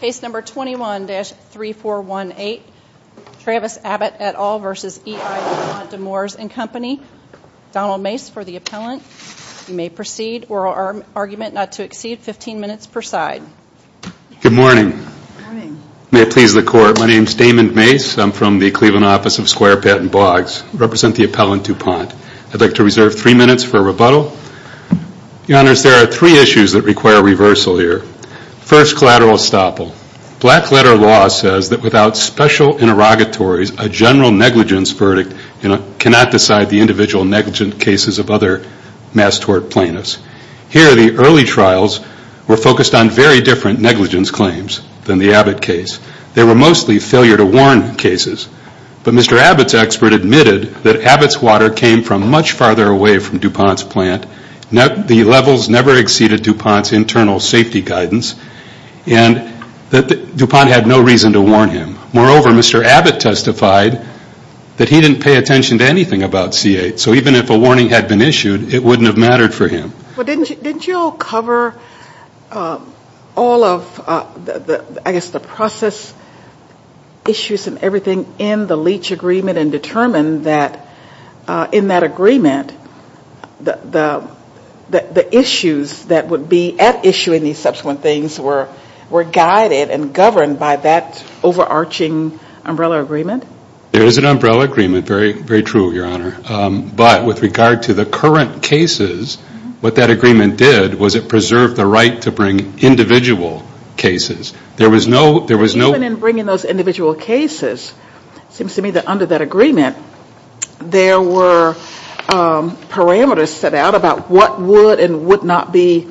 Case number 21-3418, Travis Abbott et al. v. E I du Pont de Nemours & Co. Donald Mace for the appellant. You may proceed. Oral argument not to exceed 15 minutes per side. Good morning. May it please the Court. My name is Damon Mace. I'm from the Cleveland Office of Square, Patent, and Blogs. I represent the appellant du Pont. I'd like to reserve three minutes for rebuttal. Your Honors, there are three issues that require reversal here. First, collateral estoppel. Black letter law says that without special interrogatories, a general negligence verdict cannot decide the individual negligent cases of other mass tort plaintiffs. Here, the early trials were focused on very different negligence claims than the Abbott case. They were mostly failure to warn cases. But Mr. Abbott's expert admitted that Abbott's water came from much farther away from du Pont's plant. The levels never exceeded du Pont's internal safety guidance. And du Pont had no reason to warn him. Moreover, Mr. Abbott testified that he didn't pay attention to anything about C-8. So even if a warning had been issued, it wouldn't have mattered for him. Well, didn't you cover all of, I guess, the process issues and everything in the Leach agreement and determine that in that agreement, the issues that would be at issue in these subsequent things were guided and governed by that overarching umbrella agreement? There is an umbrella agreement, very true, Your Honor. But with regard to the current cases, what that agreement did was it preserved the right to bring individual cases. Even in bringing those individual cases, it seems to me that under that agreement, there were parameters set out about what would and would not be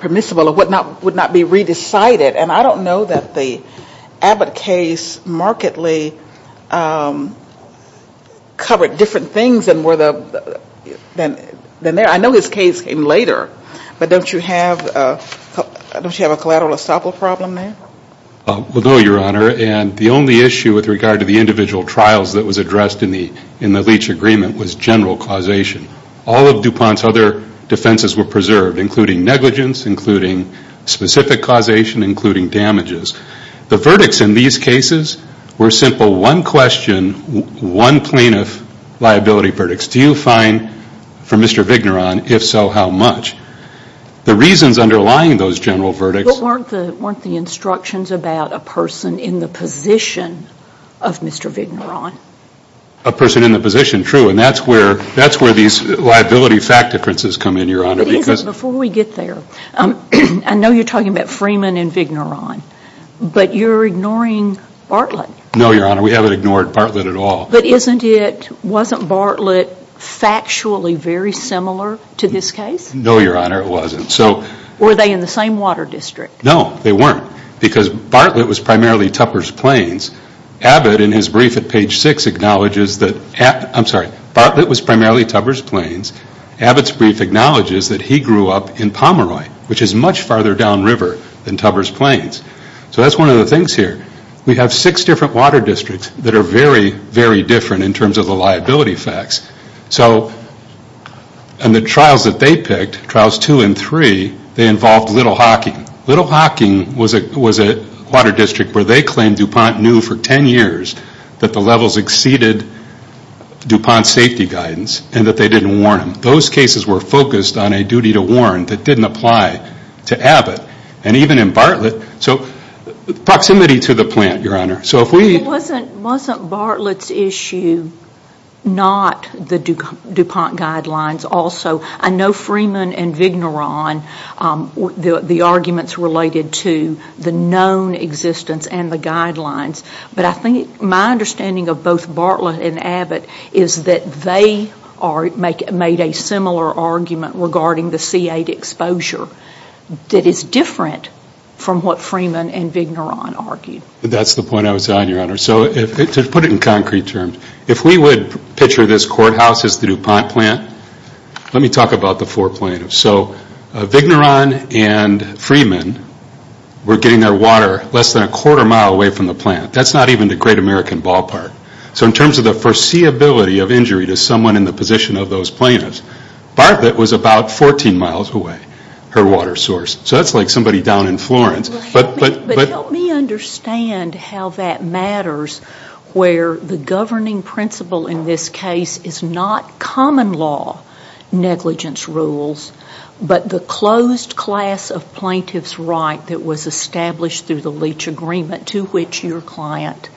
permissible or what would not be re-decided. And I don't know that the Abbott case markedly covered different things than were there. I know his case came later, but don't you have a collateral estoppel problem there? Well, no, Your Honor. And the only issue with regard to the individual trials that was addressed in the Leach agreement was general causation. All of du Pont's other defenses were preserved, including negligence, including specific causation, including damages. The verdicts in these cases were simple one question, one plaintiff liability verdicts. Do you find for Mr. Vigneron, if so, how much? The reasons underlying those general verdicts. But weren't the instructions about a person in the position of Mr. Vigneron? A person in the position, true, and that's where these liability fact differences come in, Your Honor. But isn't, before we get there, I know you're talking about Freeman and Vigneron, but you're ignoring Bartlett. No, Your Honor, we haven't ignored Bartlett at all. But isn't it, wasn't Bartlett factually very similar to this case? No, Your Honor, it wasn't. Were they in the same water district? No, they weren't, because Bartlett was primarily Tupper's Plains. Abbott, in his brief at page six, acknowledges that, I'm sorry, Bartlett was primarily Tupper's Plains. Abbott's brief acknowledges that he grew up in Pomeroy, which is much farther down river than Tupper's Plains. So that's one of the things here. We have six different water districts that are very, very different in terms of the liability facts. So in the trials that they picked, trials two and three, they involved Little Hocking. Little Hocking was a water district where they claimed DuPont knew for ten years that the levels exceeded DuPont's safety guidance and that they didn't warn them. Those cases were focused on a duty to warn that didn't apply to Abbott and even in Bartlett. Proximity to the plant, Your Honor. Wasn't Bartlett's issue not the DuPont guidelines also? I know Freeman and Vigneron, the arguments related to the known existence and the guidelines, but I think my understanding of both Bartlett and Abbott is that they made a similar argument regarding the C8 exposure that is different from what Freeman and Vigneron argued. That's the point I was on, Your Honor. So to put it in concrete terms, if we would picture this courthouse as the DuPont plant, let me talk about the four plaintiffs. So Vigneron and Freeman were getting their water less than a quarter mile away from the plant. That's not even the great American ballpark. So in terms of the foreseeability of injury to someone in the position of those plaintiffs, Bartlett was about 14 miles away, her water source. So that's like somebody down in Florence. But help me understand how that matters where the governing principle in this case is not common law negligence rules, but the closed class of plaintiff's right that was established through the leach agreement to which your client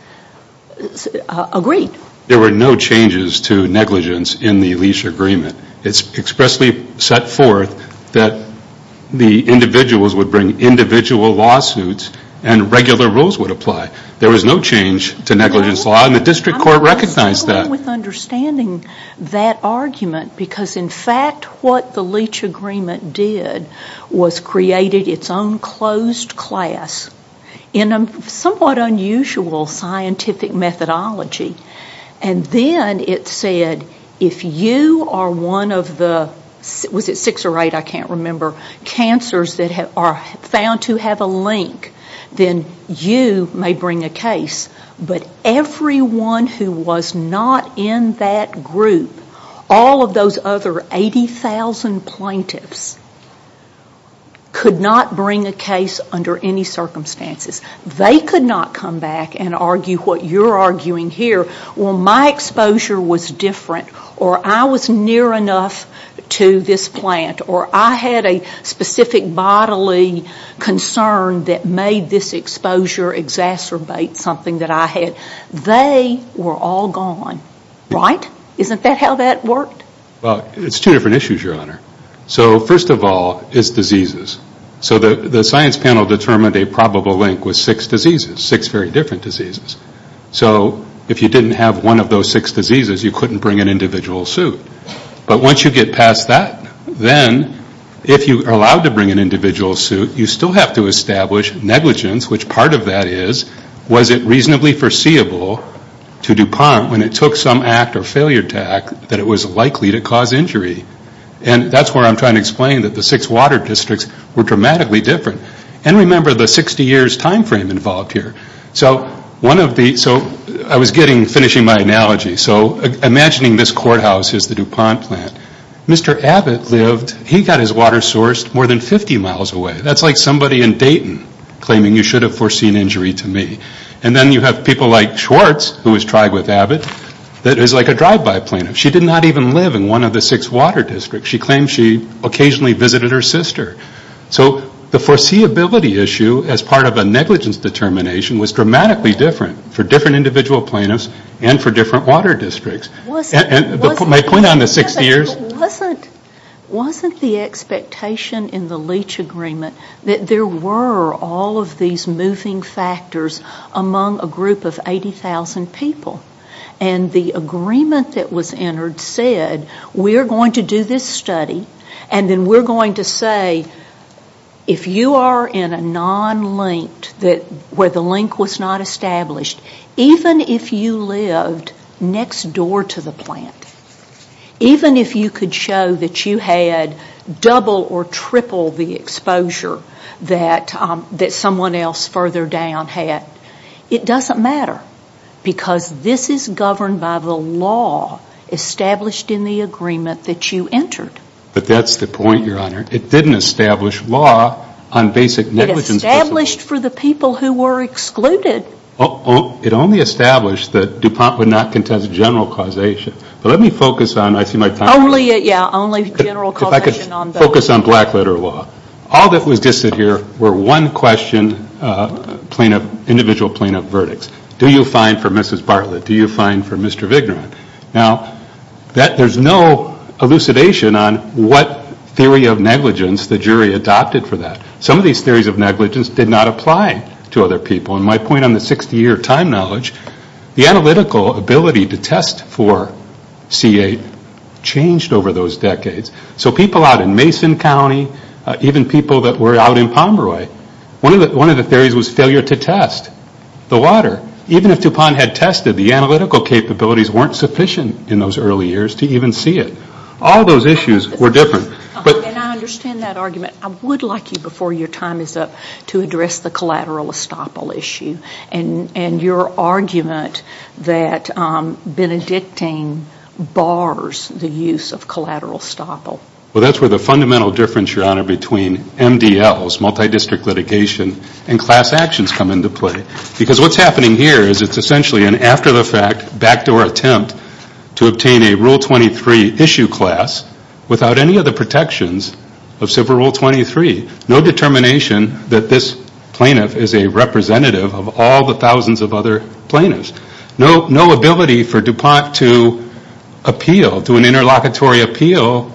agreed. There were no changes to negligence in the leach agreement. It's expressly set forth that the individuals would bring individual lawsuits and regular rules would apply. There was no change to negligence law, and the district court recognized that. I'm struggling with understanding that argument because, in fact, what the leach agreement did was created its own closed class in a somewhat unusual scientific methodology. And then it said, if you are one of the, was it six or eight, I can't remember, cancers that are found to have a link, then you may bring a case. But everyone who was not in that group, all of those other 80,000 plaintiffs, could not bring a case under any circumstances. They could not come back and argue what you're arguing here. Well, my exposure was different, or I was near enough to this plant, or I had a specific bodily concern that made this exposure exacerbate something that I had. They were all gone, right? Isn't that how that worked? Well, it's two different issues, Your Honor. So first of all, it's diseases. So the science panel determined a probable link was six diseases, six very different diseases. So if you didn't have one of those six diseases, you couldn't bring an individual suit. But once you get past that, then if you are allowed to bring an individual suit, you still have to establish negligence, which part of that is, was it reasonably foreseeable to DuPont when it took some act or failure to act, that it was likely to cause injury? And that's where I'm trying to explain that the six water districts were dramatically different. And remember the 60 years time frame involved here. So one of the, so I was getting, finishing my analogy. So imagining this courthouse is the DuPont plant. Mr. Abbott lived, he got his water sourced more than 50 miles away. That's like somebody in Dayton claiming you should have foreseen injury to me. And then you have people like Schwartz, who was tried with Abbott, that is like a drive-by plaintiff. She did not even live in one of the six water districts. She claimed she occasionally visited her sister. So the foreseeability issue as part of a negligence determination was dramatically different for different individual plaintiffs and for different water districts. And my point on the 60 years. Wasn't the expectation in the Leach Agreement that there were all of these moving factors among a group of 80,000 people? And the agreement that was entered said, we are going to do this study and then we're going to say if you are in a non-linked, where the link was not established, even if you lived next door to the plant, even if you could show that you had double or triple the exposure that someone else further down had, it doesn't matter. Because this is governed by the law established in the agreement that you entered. But that's the point, Your Honor. It didn't establish law on basic negligence. It established for the people who were excluded. It only established that DuPont would not contest general causation. But let me focus on, I see my time is up. Yeah, only general causation on those. If I could focus on black letter law. All that was dissidered were one question plaintiff, individual plaintiff verdicts. Do you find for Mrs. Bartlett? Do you find for Mr. Vigneron? Now, there's no elucidation on what theory of negligence the jury adopted for that. Some of these theories of negligence did not apply to other people. And my point on the 60-year time knowledge, the analytical ability to test for C8 changed over those decades. So people out in Mason County, even people that were out in Pomeroy, one of the theories was failure to test the water. Even if DuPont had tested, the analytical capabilities weren't sufficient in those early years to even see it. All those issues were different. And I understand that argument. I would like you, before your time is up, to address the collateral estoppel issue and your argument that Benedictine bars the use of collateral estoppel. Well, that's where the fundamental difference, Your Honor, between MDLs, multi-district litigation, and class actions come into play. Because what's happening here is it's essentially an after-the-fact, backdoor attempt to obtain a Rule 23 issue class without any of the protections of Civil Rule 23. No determination that this plaintiff is a representative of all the thousands of other plaintiffs. No ability for DuPont to appeal, do an interlocutory appeal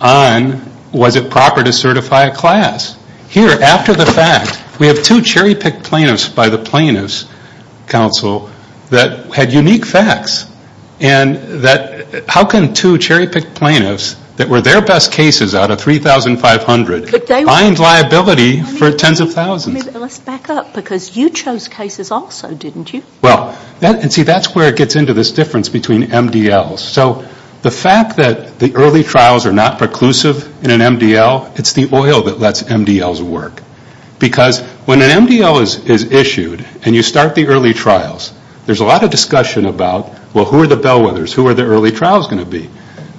on was it proper to certify a class. Here, after the fact, we have two cherry-picked plaintiffs by the Plaintiffs' Council that had unique facts. And how can two cherry-picked plaintiffs that were their best cases out of 3,500 find liability for tens of thousands? Let's back up. Because you chose cases also, didn't you? Well, see, that's where it gets into this difference between MDLs. So the fact that the early trials are not preclusive in an MDL, it's the oil that lets MDLs work. Because when an MDL is issued and you start the early trials, there's a lot of discussion about, well, who are the bellwethers? Who are the early trials going to be?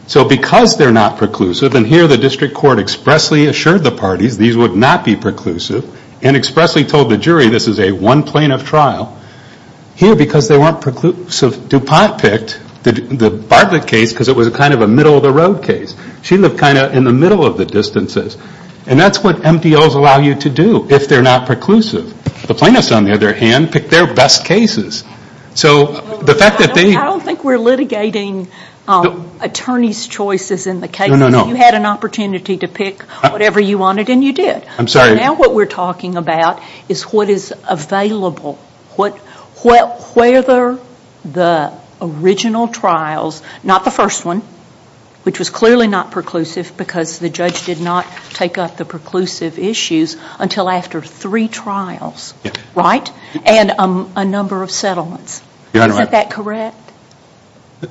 So because they're not preclusive, and here the district court expressly assured the parties these would not be preclusive, and expressly told the jury this is a one-plaintiff trial. Here, because they weren't preclusive, DuPont picked the Bartlett case because it was kind of a middle-of-the-road case. She lived kind of in the middle of the distances. And that's what MDLs allow you to do if they're not preclusive. The plaintiffs, on the other hand, picked their best cases. So the fact that they... I don't think we're litigating attorneys' choices in the case. No, no, no. You had an opportunity to pick whatever you wanted, and you did. I'm sorry. So now what we're talking about is what is available. Whether the original trials, not the first one, which was clearly not preclusive because the judge did not take up the preclusive issues until after three trials, right? And a number of settlements. Is that correct?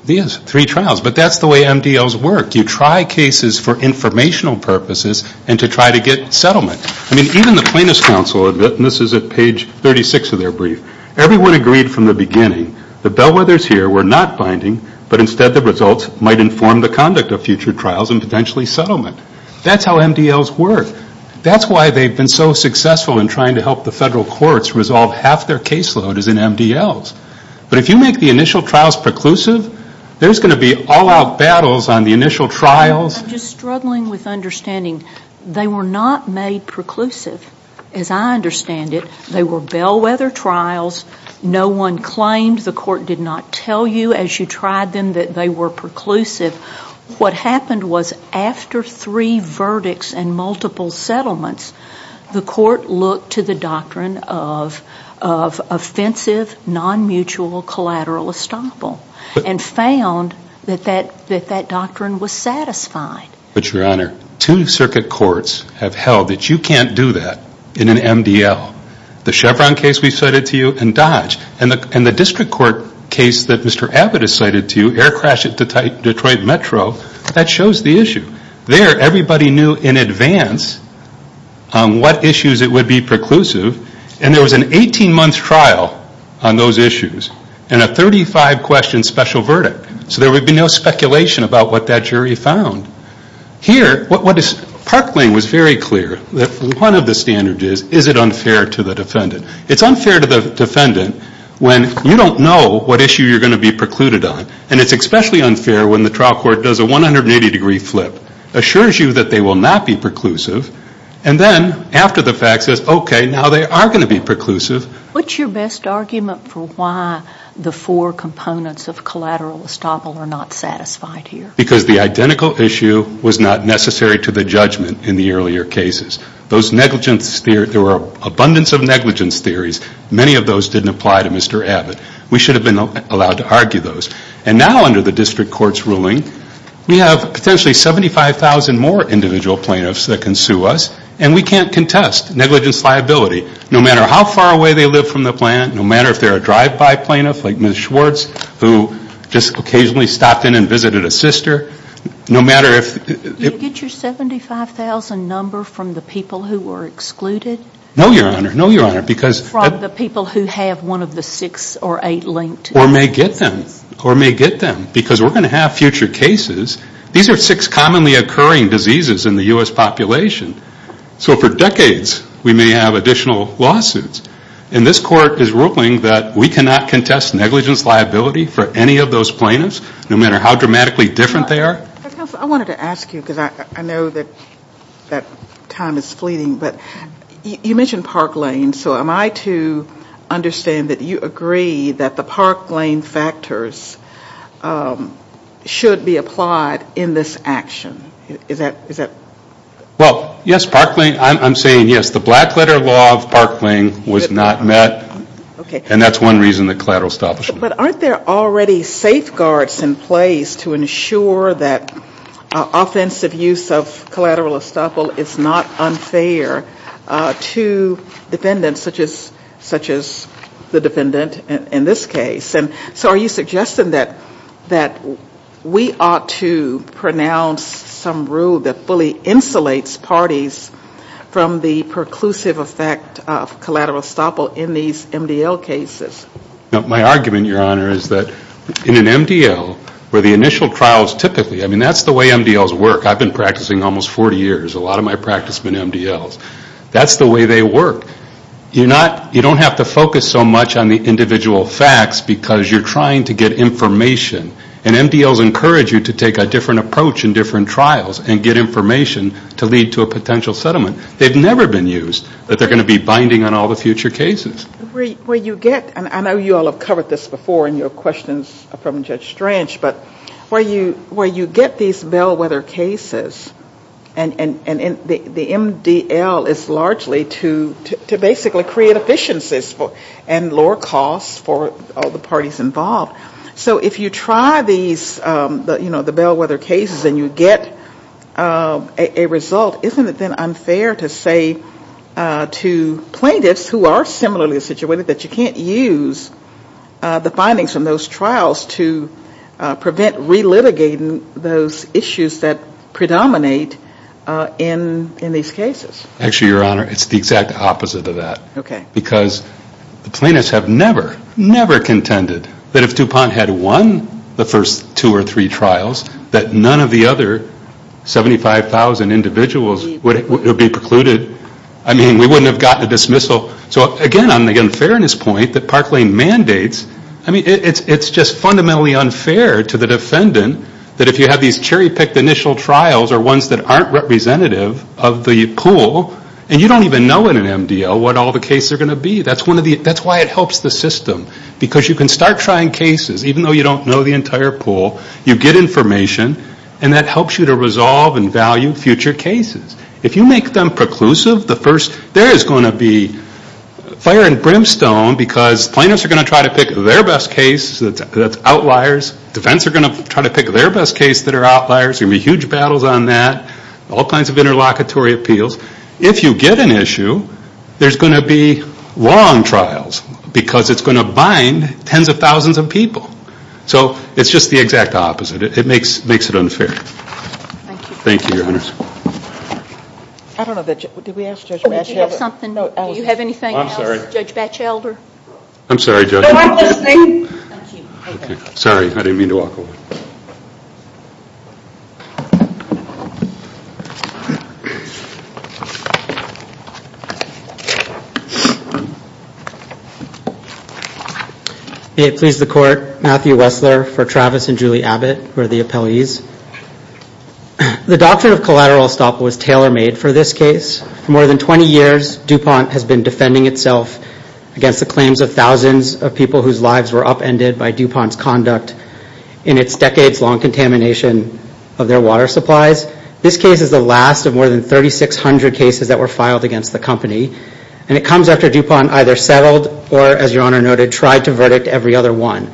Yes, three trials. But that's the way MDLs work. You try cases for informational purposes and to try to get settlement. I mean, even the plaintiffs' counsel, and this is at page 36 of their brief, everyone agreed from the beginning that bellwethers here were not binding, but instead the results might inform the conduct of future trials and potentially settlement. That's how MDLs work. That's why they've been so successful in trying to help the federal courts resolve half their caseload is in MDLs. But if you make the initial trials preclusive, there's going to be all-out battles on the initial trials. I'm just struggling with understanding. They were not made preclusive, as I understand it. They were bellwether trials. No one claimed. The court did not tell you as you tried them that they were preclusive. What happened was after three verdicts and multiple settlements, the court looked to the doctrine of offensive, non-mutual collateral estoppel and found that that doctrine was satisfied. But, Your Honor, two circuit courts have held that you can't do that in an MDL. The Chevron case we cited to you and Dodge, and the district court case that Mr. Abbott has cited to you, air crash at Detroit Metro, that shows the issue. There, everybody knew in advance what issues it would be preclusive. And there was an 18-month trial on those issues and a 35-question special verdict. So there would be no speculation about what that jury found. Here, Parkland was very clear that one of the standards is, is it unfair to the defendant? It's unfair to the defendant when you don't know what issue you're going to be precluded on. And it's especially unfair when the trial court does a 180-degree flip, assures you that they will not be preclusive, and then after the fact says, okay, now they are going to be preclusive. What's your best argument for why the four components of collateral estoppel are not satisfied here? Because the identical issue was not necessary to the judgment in the earlier cases. Those negligence, there were abundance of negligence theories. Many of those didn't apply to Mr. Abbott. We should have been allowed to argue those. And now under the district court's ruling, we have potentially 75,000 more individual plaintiffs that can sue us, and we can't contest negligence liability no matter how far away they live from the plant, no matter if they're a drive-by plaintiff like Ms. Schwartz, who just occasionally stopped in and visited a sister, no matter if they're- Did you get your 75,000 number from the people who were excluded? No, Your Honor. No, Your Honor. From the people who have one of the six or eight linked? Or may get them. Or may get them. Because we're going to have future cases. These are six commonly occurring diseases in the U.S. population. So for decades, we may have additional lawsuits. And this court is ruling that we cannot contest negligence liability for any of those plaintiffs, no matter how dramatically different they are. I wanted to ask you, because I know that time is fleeting, but you mentioned Park Lane. So am I to understand that you agree that the Park Lane factors should be applied in this action? Is that- Well, yes, Park Lane, I'm saying yes. The Blackletter Law of Park Lane was not met, and that's one reason the collateral estoppel- But aren't there already safeguards in place to ensure that to defendants such as the defendant in this case? So are you suggesting that we ought to pronounce some rule that fully insulates parties from the preclusive effect of collateral estoppel in these MDL cases? My argument, Your Honor, is that in an MDL, where the initial trials typically- I mean, that's the way MDLs work. I've been practicing almost 40 years. A lot of my practice have been MDLs. That's the way they work. You don't have to focus so much on the individual facts because you're trying to get information. And MDLs encourage you to take a different approach in different trials and get information to lead to a potential settlement. They've never been used, but they're going to be binding on all the future cases. Where you get-and I know you all have covered this before in your questions from Judge Strange, but where you get these bellwether cases and the MDL is largely to basically create efficiencies and lower costs for all the parties involved. So if you try these, you know, the bellwether cases and you get a result, isn't it then unfair to say to plaintiffs who are similarly situated that you can't use the findings from those trials to prevent relitigating those issues that predominate in these cases? Actually, Your Honor, it's the exact opposite of that. Okay. Because the plaintiffs have never, never contended that if DuPont had won the first two or three trials that none of the other 75,000 individuals would be precluded. I mean, we wouldn't have gotten a dismissal. So again, on the unfairness point that Park Lane mandates, I mean, it's just fundamentally unfair to the defendant that if you have these cherry-picked initial trials or ones that aren't representative of the pool and you don't even know in an MDL what all the cases are going to be. That's why it helps the system. Because you can start trying cases, even though you don't know the entire pool, you get information and that helps you to resolve and value future cases. If you make them preclusive, there is going to be fire and brimstone because plaintiffs are going to try to pick their best case that's outliers. Defends are going to try to pick their best case that are outliers. There are going to be huge battles on that, all kinds of interlocutory appeals. If you get an issue, there's going to be long trials because it's going to bind tens of thousands of people. So it's just the exact opposite. It makes it unfair. Thank you. Thank you, Your Honors. I don't know if that's it. Did we ask Judge Batchelder? Oh, did you have something? Do you have anything else, Judge Batchelder? I'm sorry, Judge. No, I'm listening. Thank you. Okay. Sorry, I didn't mean to walk away. May it please the Court, Matthew Wessler for Travis and Julie Abbott, who are the appellees. The doctrine of collateral estoppel was tailor-made for this case. For more than 20 years, DuPont has been defending itself against the claims of thousands of people whose lives were upended by DuPont's conduct in its decades-long contamination of their water supplies. This case is the last of more than 3,600 cases that were filed against the company, and it comes after DuPont either settled or, as Your Honor noted, tried to verdict every other one.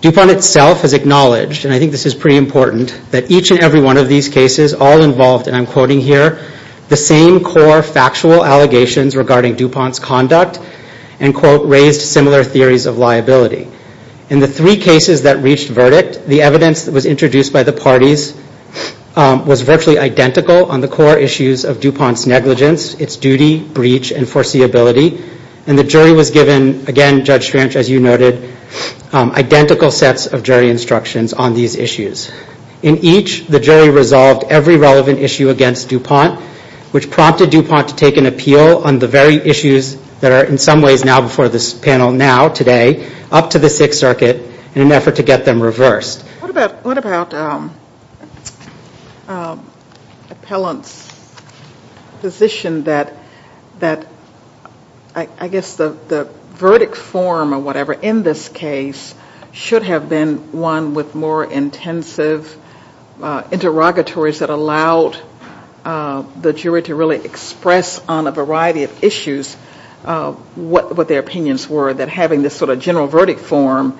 DuPont itself has acknowledged, and I think this is pretty important, that each and every one of these cases all involved, and I'm quoting here, the same core factual allegations regarding DuPont's conduct and, quote, raised similar theories of liability. In the three cases that reached verdict, the evidence that was introduced by the parties was virtually identical on the core issues of DuPont's negligence, its duty, breach, and foreseeability, and the jury was given, again, Judge Strange, as you noted, identical sets of jury instructions on these issues. In each, the jury resolved every relevant issue against DuPont, which prompted DuPont to take an appeal on the very issues that are in some ways now before this panel now, today, up to the Sixth Circuit, in an effort to get them reversed. What about Appellant's position that I guess the verdict form or whatever in this case should have been one with more intensive interrogatories that allowed the jury to really express on a variety of issues what their opinions were, that having this sort of general verdict form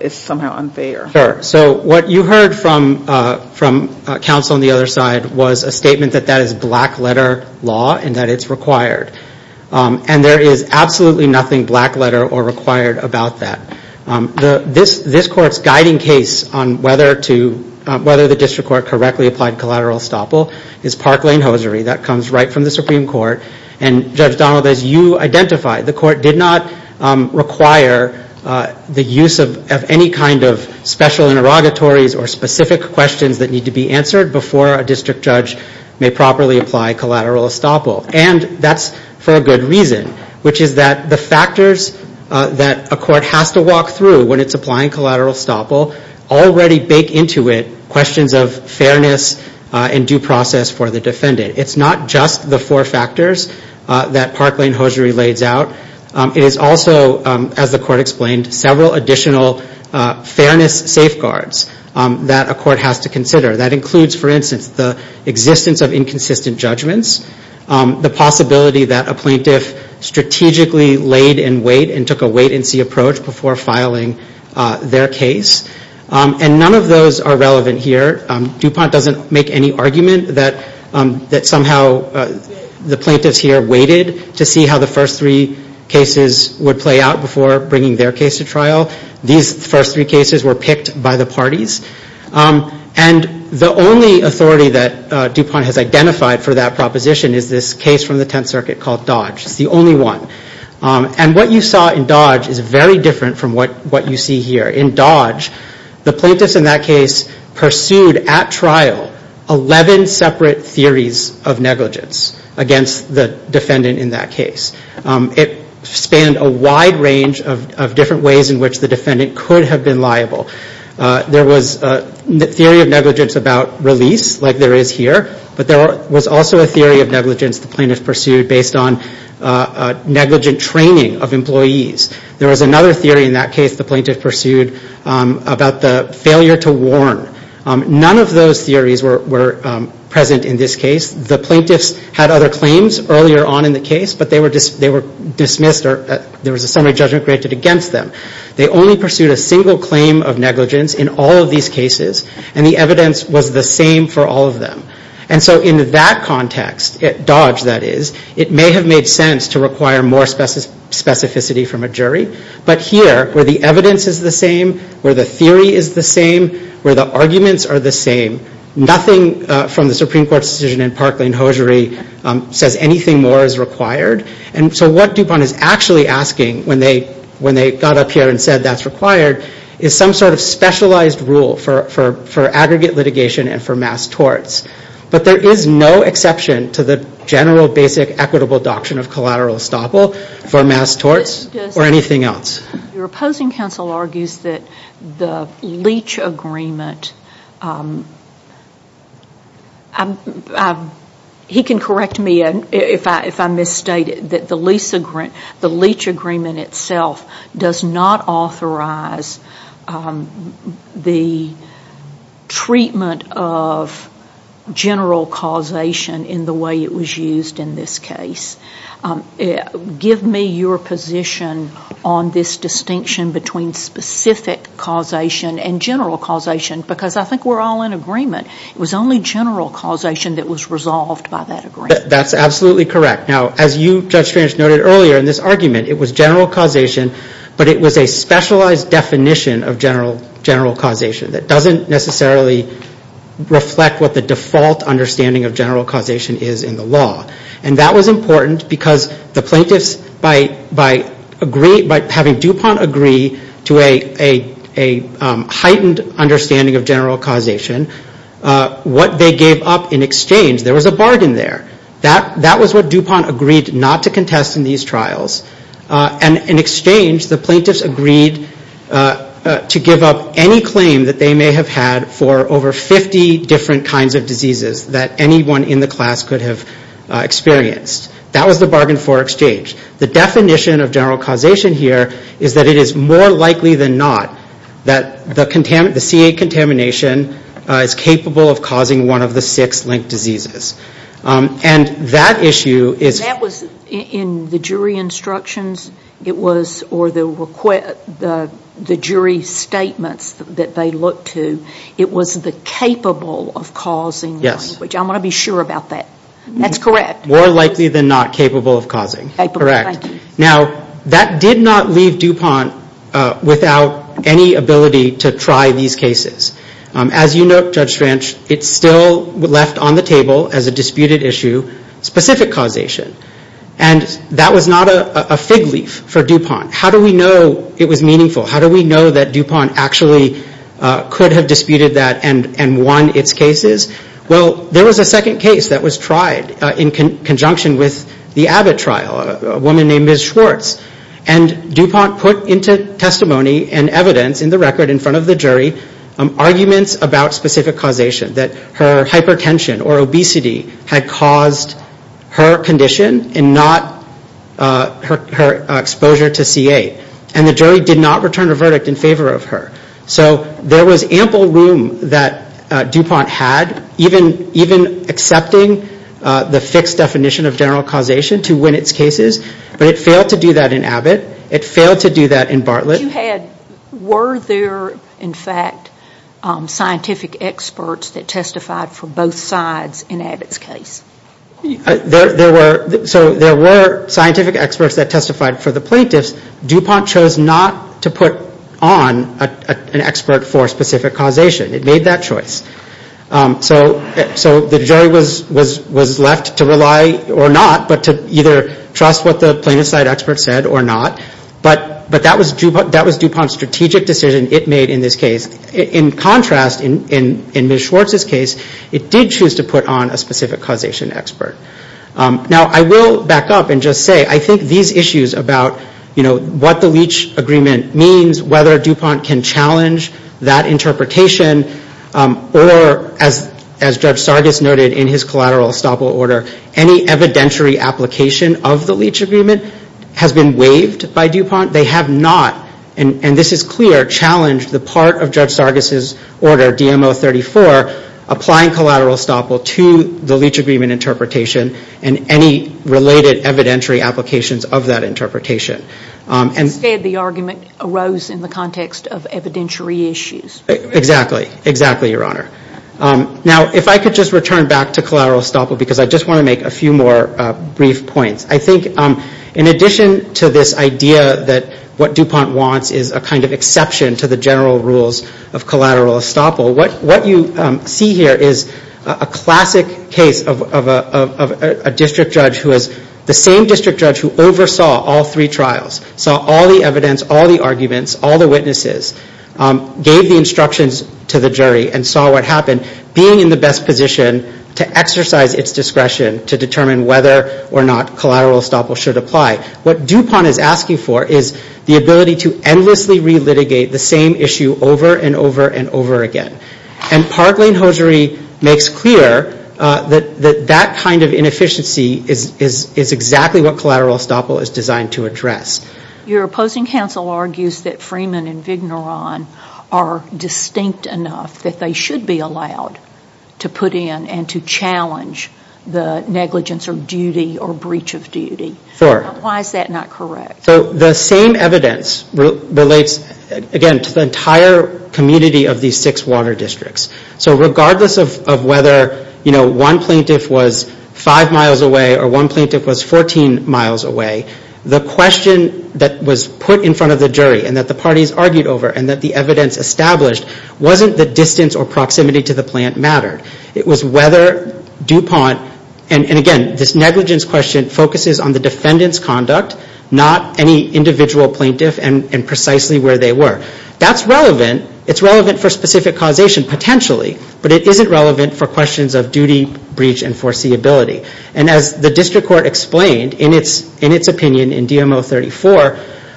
is somehow unfair? Sure. So what you heard from counsel on the other side was a statement that that is black-letter law and that it's required. And there is absolutely nothing black-letter or required about that. This Court's guiding case on whether the District Court correctly applied collateral estoppel is Park Lane Hosiery. That comes right from the Supreme Court. And, Judge Donald, as you identified, the Court did not require the use of any kind of special interrogatories or specific questions that need to be answered before a district judge may properly apply collateral estoppel. And that's for a good reason, which is that the factors that a court has to walk through when it's applying collateral estoppel already bake into it questions of fairness and due process for the defendant. It's not just the four factors that Park Lane Hosiery lays out. It is also, as the Court explained, several additional fairness safeguards that a court has to consider. That includes, for instance, the existence of inconsistent judgments, the possibility that a plaintiff strategically laid in wait and took a wait-and-see approach before filing their case. And none of those are relevant here. DuPont doesn't make any argument that somehow the plaintiffs here waited to see how the first three cases would play out before bringing their case to trial. These first three cases were picked by the parties. And the only authority that DuPont has identified for that proposition is this case from the Tenth Circuit called Dodge. It's the only one. And what you saw in Dodge is very different from what you see here. In Dodge, the plaintiffs in that case pursued at trial 11 separate theories of negligence against the defendant in that case. It spanned a wide range of different ways in which the defendant could have been liable. There was a theory of negligence about release, like there is here. But there was also a theory of negligence the plaintiff pursued based on negligent training of employees. There was another theory in that case the plaintiff pursued about the failure to warn. None of those theories were present in this case. The plaintiffs had other claims earlier on in the case, but they were dismissed or there was a summary judgment created against them. They only pursued a single claim of negligence in all of these cases. And the evidence was the same for all of them. And so in that context, Dodge that is, it may have made sense to require more specificity from a jury, but here where the evidence is the same, where the theory is the same, where the arguments are the same, nothing from the Supreme Court's decision in Parkland-Hosiery says anything more is required. And so what DuPont is actually asking when they got up here and said that's required is some sort of specialized rule for aggregate litigation and for mass torts. But there is no exception to the general basic equitable doctrine of collateral estoppel for mass torts or anything else. Your opposing counsel argues that the leach agreement, he can correct me if I misstate it, the leach agreement itself does not authorize the treatment of general causation in the way it was used in this case. Give me your position on this distinction between specific causation and general causation, because I think we're all in agreement. It was only general causation that was resolved by that agreement. That's absolutely correct. Now, as you, Judge Strange, noted earlier in this argument, it was general causation, but it was a specialized definition of general causation that doesn't necessarily reflect what the default understanding of general causation is in the law. And that was important because the plaintiffs, by having DuPont agree to a heightened understanding of general causation, what they gave up in exchange, there was a bargain there. That was what DuPont agreed not to contest in these trials. And in exchange, the plaintiffs agreed to give up any claim that they may have had for over 50 different kinds of diseases that anyone in the class could have experienced. That was the bargain for exchange. The definition of general causation here is that it is more likely than not that the CA contamination is capable of causing one of the six linked diseases. And that issue is... That was in the jury instructions, it was, or the jury statements that they looked to, it was the capable of causing one. Yes. Which I'm going to be sure about that. That's correct. More likely than not capable of causing. Capable, thank you. Correct. Now, that did not leave DuPont without any ability to try these cases. As you note, Judge Schranch, it still left on the table as a disputed issue specific causation. And that was not a fig leaf for DuPont. How do we know it was meaningful? How do we know that DuPont actually could have disputed that and won its cases? Well, there was a second case that was tried in conjunction with the Abbott trial, a woman named Ms. Schwartz. And DuPont put into testimony and evidence in the record in front of the jury arguments about specific causation, that her hypertension or obesity had caused her condition and not her exposure to C.A. And the jury did not return a verdict in favor of her. So there was ample room that DuPont had, even accepting the fixed definition of general causation to win its cases. But it failed to do that in Abbott. It failed to do that in Bartlett. Were there, in fact, scientific experts that testified for both sides in Abbott's case? There were scientific experts that testified for the plaintiffs. DuPont chose not to put on an expert for specific causation. It made that choice. So the jury was left to rely or not, but to either trust what the plaintiff's side expert said or not. But that was DuPont's strategic decision it made in this case. In contrast, in Ms. Schwartz's case, it did choose to put on a specific causation expert. Now, I will back up and just say, I think these issues about, you know, what the Leach Agreement means, whether DuPont can challenge that interpretation, or as Judge Sargis noted in his collateral estoppel order, any evidentiary application of the Leach Agreement has been waived by DuPont. They have not, and this is clear, challenged the part of Judge Sargis' order, DMO 34, applying collateral estoppel to the Leach Agreement interpretation and any related evidentiary applications of that interpretation. Instead, the argument arose in the context of evidentiary issues. Exactly. Exactly, Your Honor. Now, if I could just return back to collateral estoppel because I just want to make a few more brief points. I think in addition to this idea that what DuPont wants is a kind of exception to the general rules of collateral estoppel, what you see here is a classic case of a district judge who is the same district judge who oversaw all three trials, saw all the evidence, all the arguments, all the witnesses, gave the instructions to the jury and saw what happened, being in the best position to exercise its discretion to determine whether or not collateral estoppel should apply. What DuPont is asking for is the ability to endlessly re-litigate the same issue over and over and over again. And Park Lane Hosiery makes clear that that kind of inefficiency is exactly what collateral estoppel is designed to address. Your opposing counsel argues that Freeman and Vigneron are distinct enough that they should be allowed to put in and to challenge the negligence of duty or breach of duty. Why is that not correct? The same evidence relates, again, to the entire community of these six water districts. So regardless of whether one plaintiff was five miles away or one plaintiff was 14 miles away, the question that was put in front of the jury and that the parties argued over and that the evidence established wasn't the distance or proximity to the plant mattered. It was whether DuPont, and again, this negligence question focuses on the defendant's conduct, not any individual plaintiff and precisely where they were. That's relevant. It's relevant for specific causation, potentially, but it isn't relevant for questions of duty, breach, and foreseeability. And as the district court explained in its opinion in DM-034,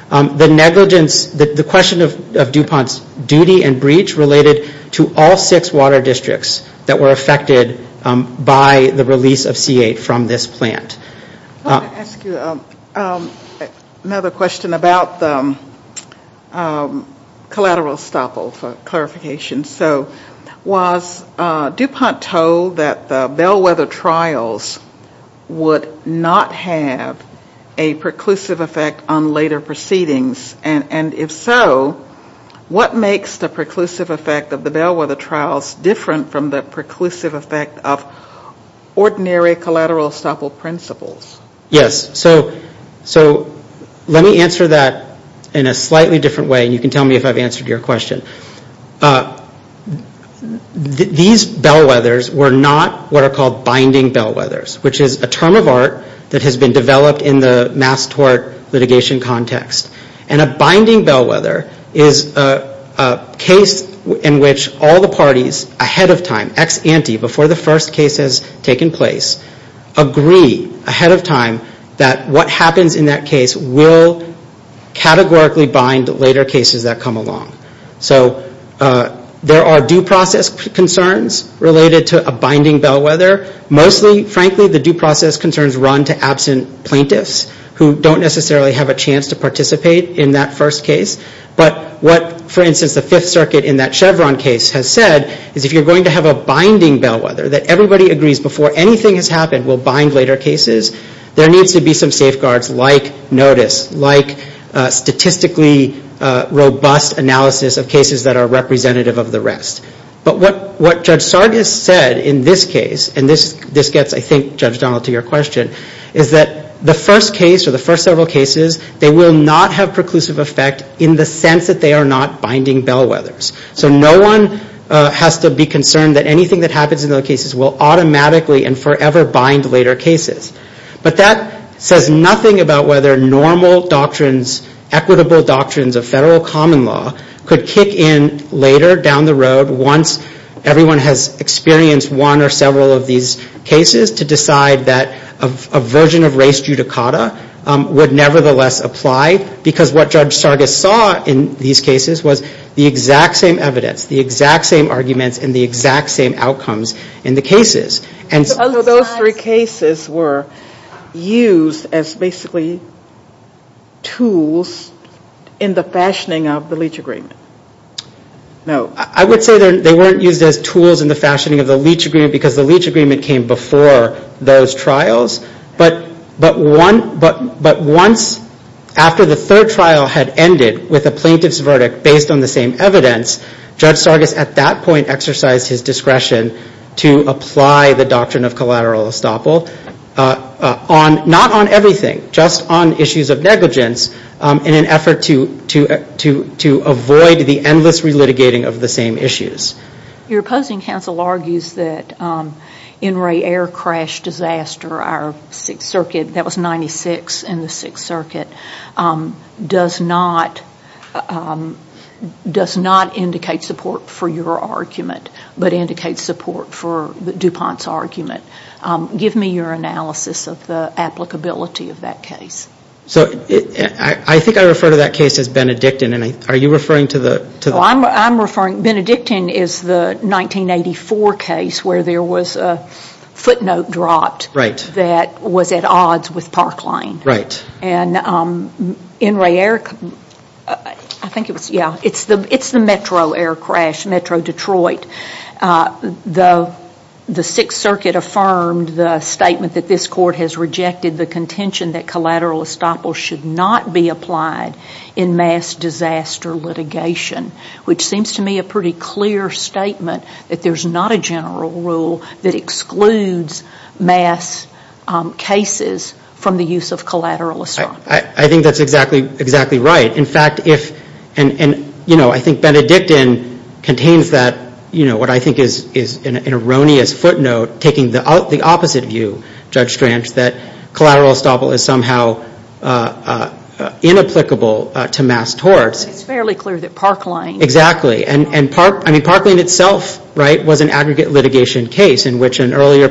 the question of DuPont's duty and breach related to all six water districts that were affected by the release of C-8 from this plant. I want to ask you another question about the collateral estoppel for clarification. Was DuPont told that the bellwether trials would not have a preclusive effect on later proceedings? And if so, what makes the preclusive effect of the bellwether trials different from the preclusive effect of ordinary collateral estoppel principles? Yes. So let me answer that in a slightly different way. And you can tell me if I've answered your question. These bellwethers were not what are called binding bellwethers, which is a term of art that has been developed in the mass tort litigation context. And a binding bellwether is a case in which all the parties ahead of time, ex ante, before the first case has taken place, agree ahead of time that what happens in that case will categorically bind later cases that come along. So there are due process concerns related to a binding bellwether. Mostly, frankly, the due process concerns run to absent plaintiffs who don't necessarily have a chance to participate in that first case. But what, for instance, the Fifth Circuit in that Chevron case has said, is if you're going to have a binding bellwether that everybody agrees before anything has happened will bind later cases, there needs to be some safeguards like notice, like statistically robust analysis of cases that are representative of the rest. But what Judge Sargis said in this case, and this gets, I think, Judge Donald, to your question, is that the first case or the first several cases, they will not have preclusive effect in the sense that they are not binding bellwethers. So no one has to be concerned that anything that happens in those cases will automatically and forever bind later cases. But that says nothing about whether normal doctrines, equitable doctrines of federal common law could kick in later down the road once everyone has experienced one or several of these cases to decide that a version of race judicata would nevertheless apply. Because what Judge Sargis saw in these cases was the exact same evidence, the exact same arguments, and the exact same outcomes in the cases. And so those three cases were used as basically tools in the fashioning of the Leach Agreement. No. I would say they weren't used as tools in the fashioning of the Leach Agreement because the Leach Agreement came before those trials. But once, after the third trial had ended with a plaintiff's verdict based on the same evidence, Judge Sargis at that point exercised his discretion to apply the doctrine of collateral estoppel not on everything, just on issues of negligence in an effort to avoid the endless relitigating of the same issues. Your opposing counsel argues that NRA air crash disaster, our Sixth Circuit, that was 96 in the Sixth Circuit, does not indicate support for your argument but indicates support for DuPont's argument. Give me your analysis of the applicability of that case. I think I refer to that case as Benedictine. Are you referring to the... I'm referring, Benedictine is the 1984 case where there was a footnote dropped Right. that was at odds with Park Lane. Right. And NRA air, I think it was, yeah, it's the Metro air crash, Metro Detroit. The Sixth Circuit affirmed the statement that this court has rejected the contention that collateral estoppel should not be applied in mass disaster litigation, which seems to me a pretty clear statement that there's not a general rule that excludes mass cases from the use of collateral estoppel. I think that's exactly right. In fact, if, and, you know, I think Benedictine contains that, you know, what I think is an erroneous footnote taking the opposite view, Judge Strange, that collateral estoppel is somehow inapplicable to mass torts. It's fairly clear that Park Lane... case in which an earlier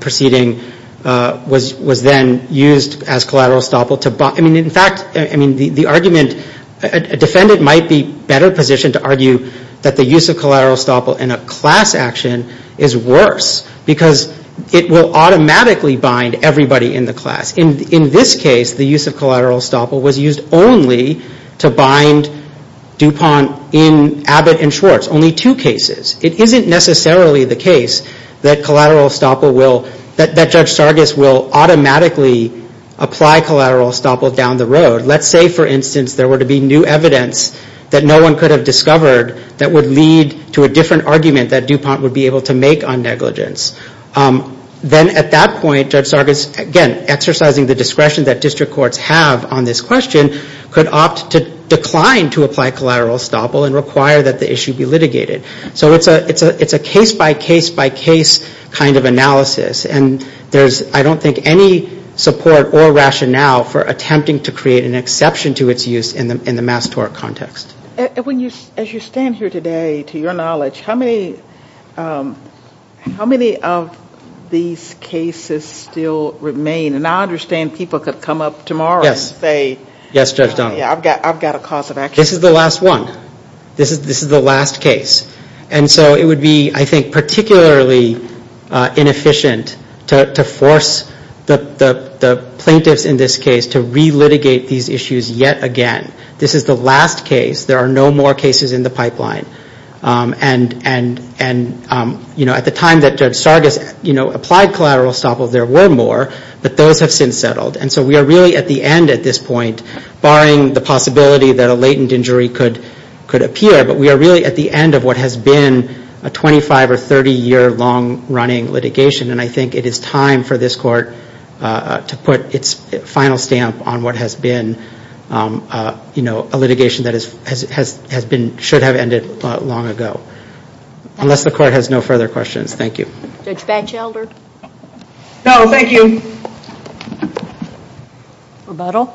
proceeding was then used as collateral estoppel to... I mean, in fact, I mean, the argument, a defendant might be better positioned to argue that the use of collateral estoppel in a class action is worse because it will automatically bind everybody in the class. In this case, the use of collateral estoppel was used only to bind DuPont in Abbott and Schwartz, only two cases. It isn't necessarily the case that collateral estoppel will, that Judge Sargis will automatically apply collateral estoppel down the road. Let's say, for instance, there were to be new evidence that no one could have discovered that would lead to a different argument that DuPont would be able to make on negligence. Then at that point, Judge Sargis, again, exercising the discretion that district courts have on this question, could opt to decline to apply collateral estoppel and require that the issue be litigated. So it's a case-by-case-by-case kind of analysis, and there's, I don't think, any support or rationale for attempting to create an exception to its use in the mass tort context. And as you stand here today, to your knowledge, how many of these cases still remain? And I understand people could come up tomorrow and say... Yes, Judge Donald. Yeah, I've got a cause of action. This is the last one. This is the last case. And so it would be, I think, particularly inefficient to force the plaintiffs in this case to re-litigate these issues yet again. This is the last case. There are no more cases in the pipeline. And at the time that Judge Sargis applied collateral estoppel, there were more, but those have since settled. And so we are really at the end at this point, barring the possibility that a latent injury could appear, but we are really at the end of what has been a 25- or 30-year long-running litigation, and I think it is time for this Court to put its final stamp on what has been a litigation that should have ended long ago. Unless the Court has no further questions. Thank you. Judge Batchelder? No, thank you. Rebuttal?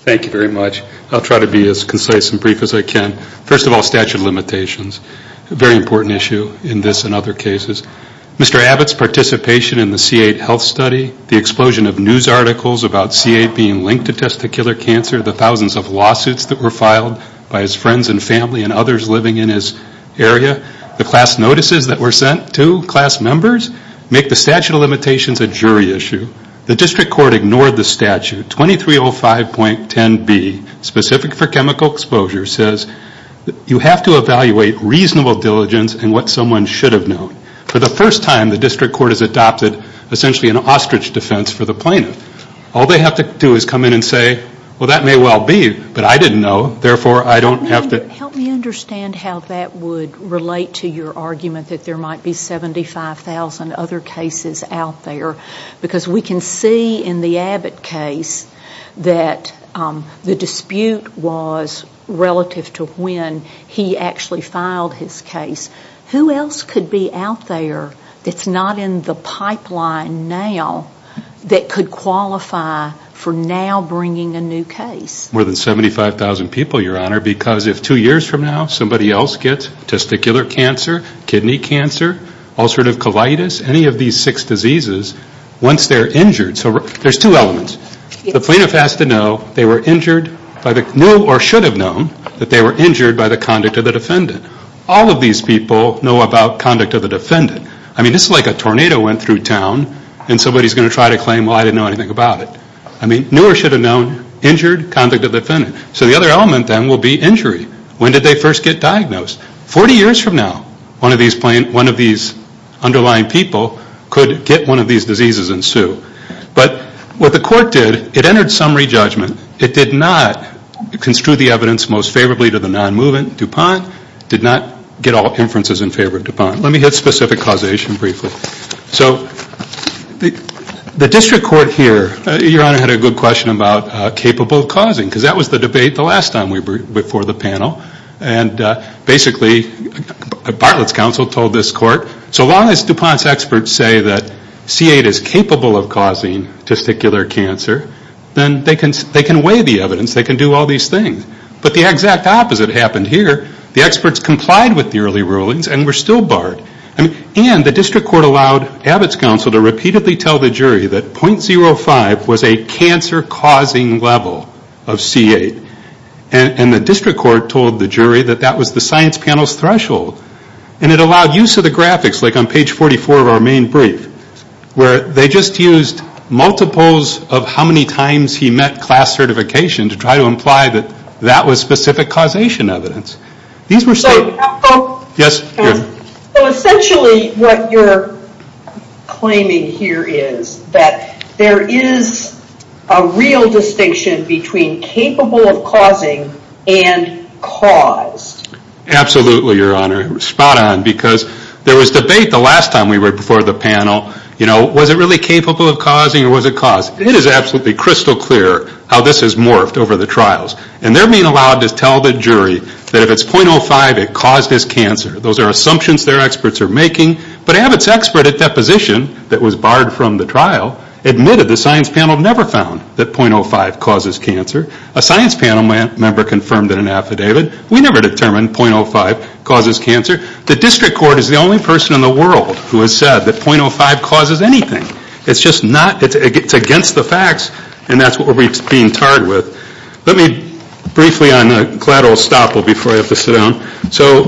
Thank you very much. I'll try to be as concise and brief as I can. First of all, statute of limitations, a very important issue in this and other cases. Mr. Abbott's participation in the C8 health study, the explosion of news articles about C8 being linked to testicular cancer, the thousands of lawsuits that were filed by his friends and family and others living in his area, the class notices that were sent to class members make the statute of limitations a jury issue. The District Court ignored the statute. 2305.10b, specific for chemical exposure, says you have to evaluate reasonable diligence and what someone should have known. For the first time, the District Court has adopted essentially an ostrich defense for the plaintiff. All they have to do is come in and say, well, that may well be, but I didn't know, therefore I don't have to. Help me understand how that would relate to your argument that there might be 75,000 other cases out there, because we can see in the Abbott case that the dispute was relative to when he actually filed his case. Who else could be out there that's not in the pipeline now that could qualify for now bringing a new case? More than 75,000 people, Your Honor, because if two years from now somebody else gets testicular cancer, kidney cancer, ulcerative colitis, any of these six diseases, once they're injured. So there's two elements. The plaintiff has to know they were injured by the new or should have known that they were injured by the conduct of the defendant. All of these people know about conduct of the defendant. I mean, it's like a tornado went through town and somebody's going to try to claim, well, I didn't know anything about it. I mean, new or should have known, injured, conduct of the defendant. So the other element then will be injury. When did they first get diagnosed? Forty years from now one of these underlying people could get one of these diseases and sue. But what the court did, it entered summary judgment. It did not construe the evidence most favorably to the non-movement DuPont. It did not get all inferences in favor of DuPont. Let me hit specific causation briefly. So the district court here, Your Honor, had a good question about capable of causing because that was the debate the last time we were before the panel. And basically Bartlett's counsel told this court, so long as DuPont's experts say that C8 is capable of causing testicular cancer, then they can weigh the evidence. They can do all these things. But the exact opposite happened here. The experts complied with the early rulings and were still barred. And the district court allowed Abbott's counsel to repeatedly tell the jury that .05 was a cancer-causing level of C8. And the district court told the jury that that was the science panel's threshold. And it allowed use of the graphics, like on page 44 of our main brief, where they just used multiples of how many times he met class certification to try to imply that that was specific causation evidence. These were stated. Yes, Your Honor. So essentially what you're claiming here is that there is a real distinction between capable of causing and caused. Absolutely, Your Honor. Spot on. Because there was debate the last time we were before the panel, you know, was it really capable of causing or was it caused? It is absolutely crystal clear how this has morphed over the trials. And they're being allowed to tell the jury that if it's .05, it caused this cancer. Those are assumptions their experts are making. But Abbott's expert at deposition that was barred from the trial admitted the science panel never found that .05 causes cancer. A science panel member confirmed it in an affidavit. We never determined .05 causes cancer. The district court is the only person in the world who has said that .05 causes anything. It's just not. It's against the facts, and that's what we're being tarred with. Let me briefly on collateral estoppel before I have to sit down. So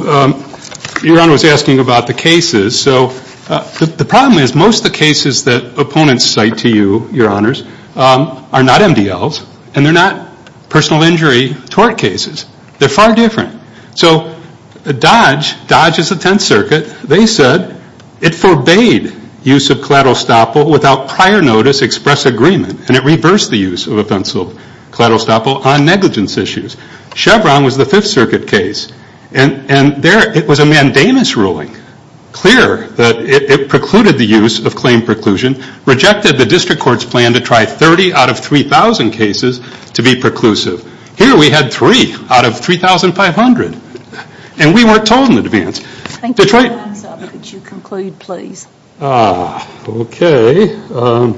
Your Honor was asking about the cases. So the problem is most of the cases that opponents cite to you, Your Honors, are not MDLs, and they're not personal injury tort cases. They're far different. So Dodge, Dodge is the Tenth Circuit. They said it forbade use of collateral estoppel without prior notice express agreement, and it reversed the use of a pencil of collateral estoppel on negligence issues. Chevron was the Fifth Circuit case. And there it was a mandamus ruling, clear that it precluded the use of claim preclusion, rejected the district court's plan to try 30 out of 3,000 cases to be preclusive. Here we had three out of 3,500, and we weren't told in advance. Thank you, Your Honor. Could you conclude, please? Okay. The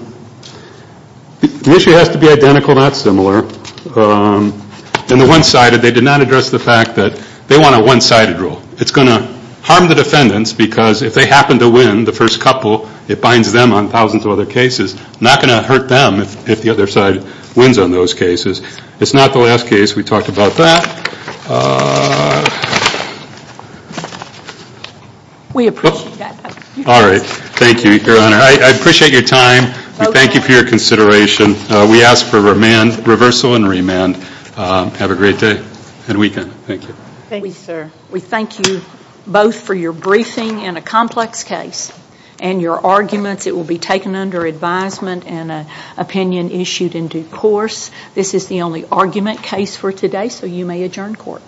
issue has to be identical, not similar. In the one-sided, they did not address the fact that they want a one-sided rule. It's going to harm the defendants because if they happen to win the first couple, it binds them on thousands of other cases. It's not going to hurt them if the other side wins on those cases. It's not the last case. We talked about that. We appreciate that. All right. Thank you, Your Honor. I appreciate your time. We thank you for your consideration. We ask for reversal and remand. Have a great day and weekend. Thank you. Thank you, sir. We thank you both for your briefing in a complex case and your arguments. It will be taken under advisement and an opinion issued in due course. This is the only argument case for today, so you may adjourn court.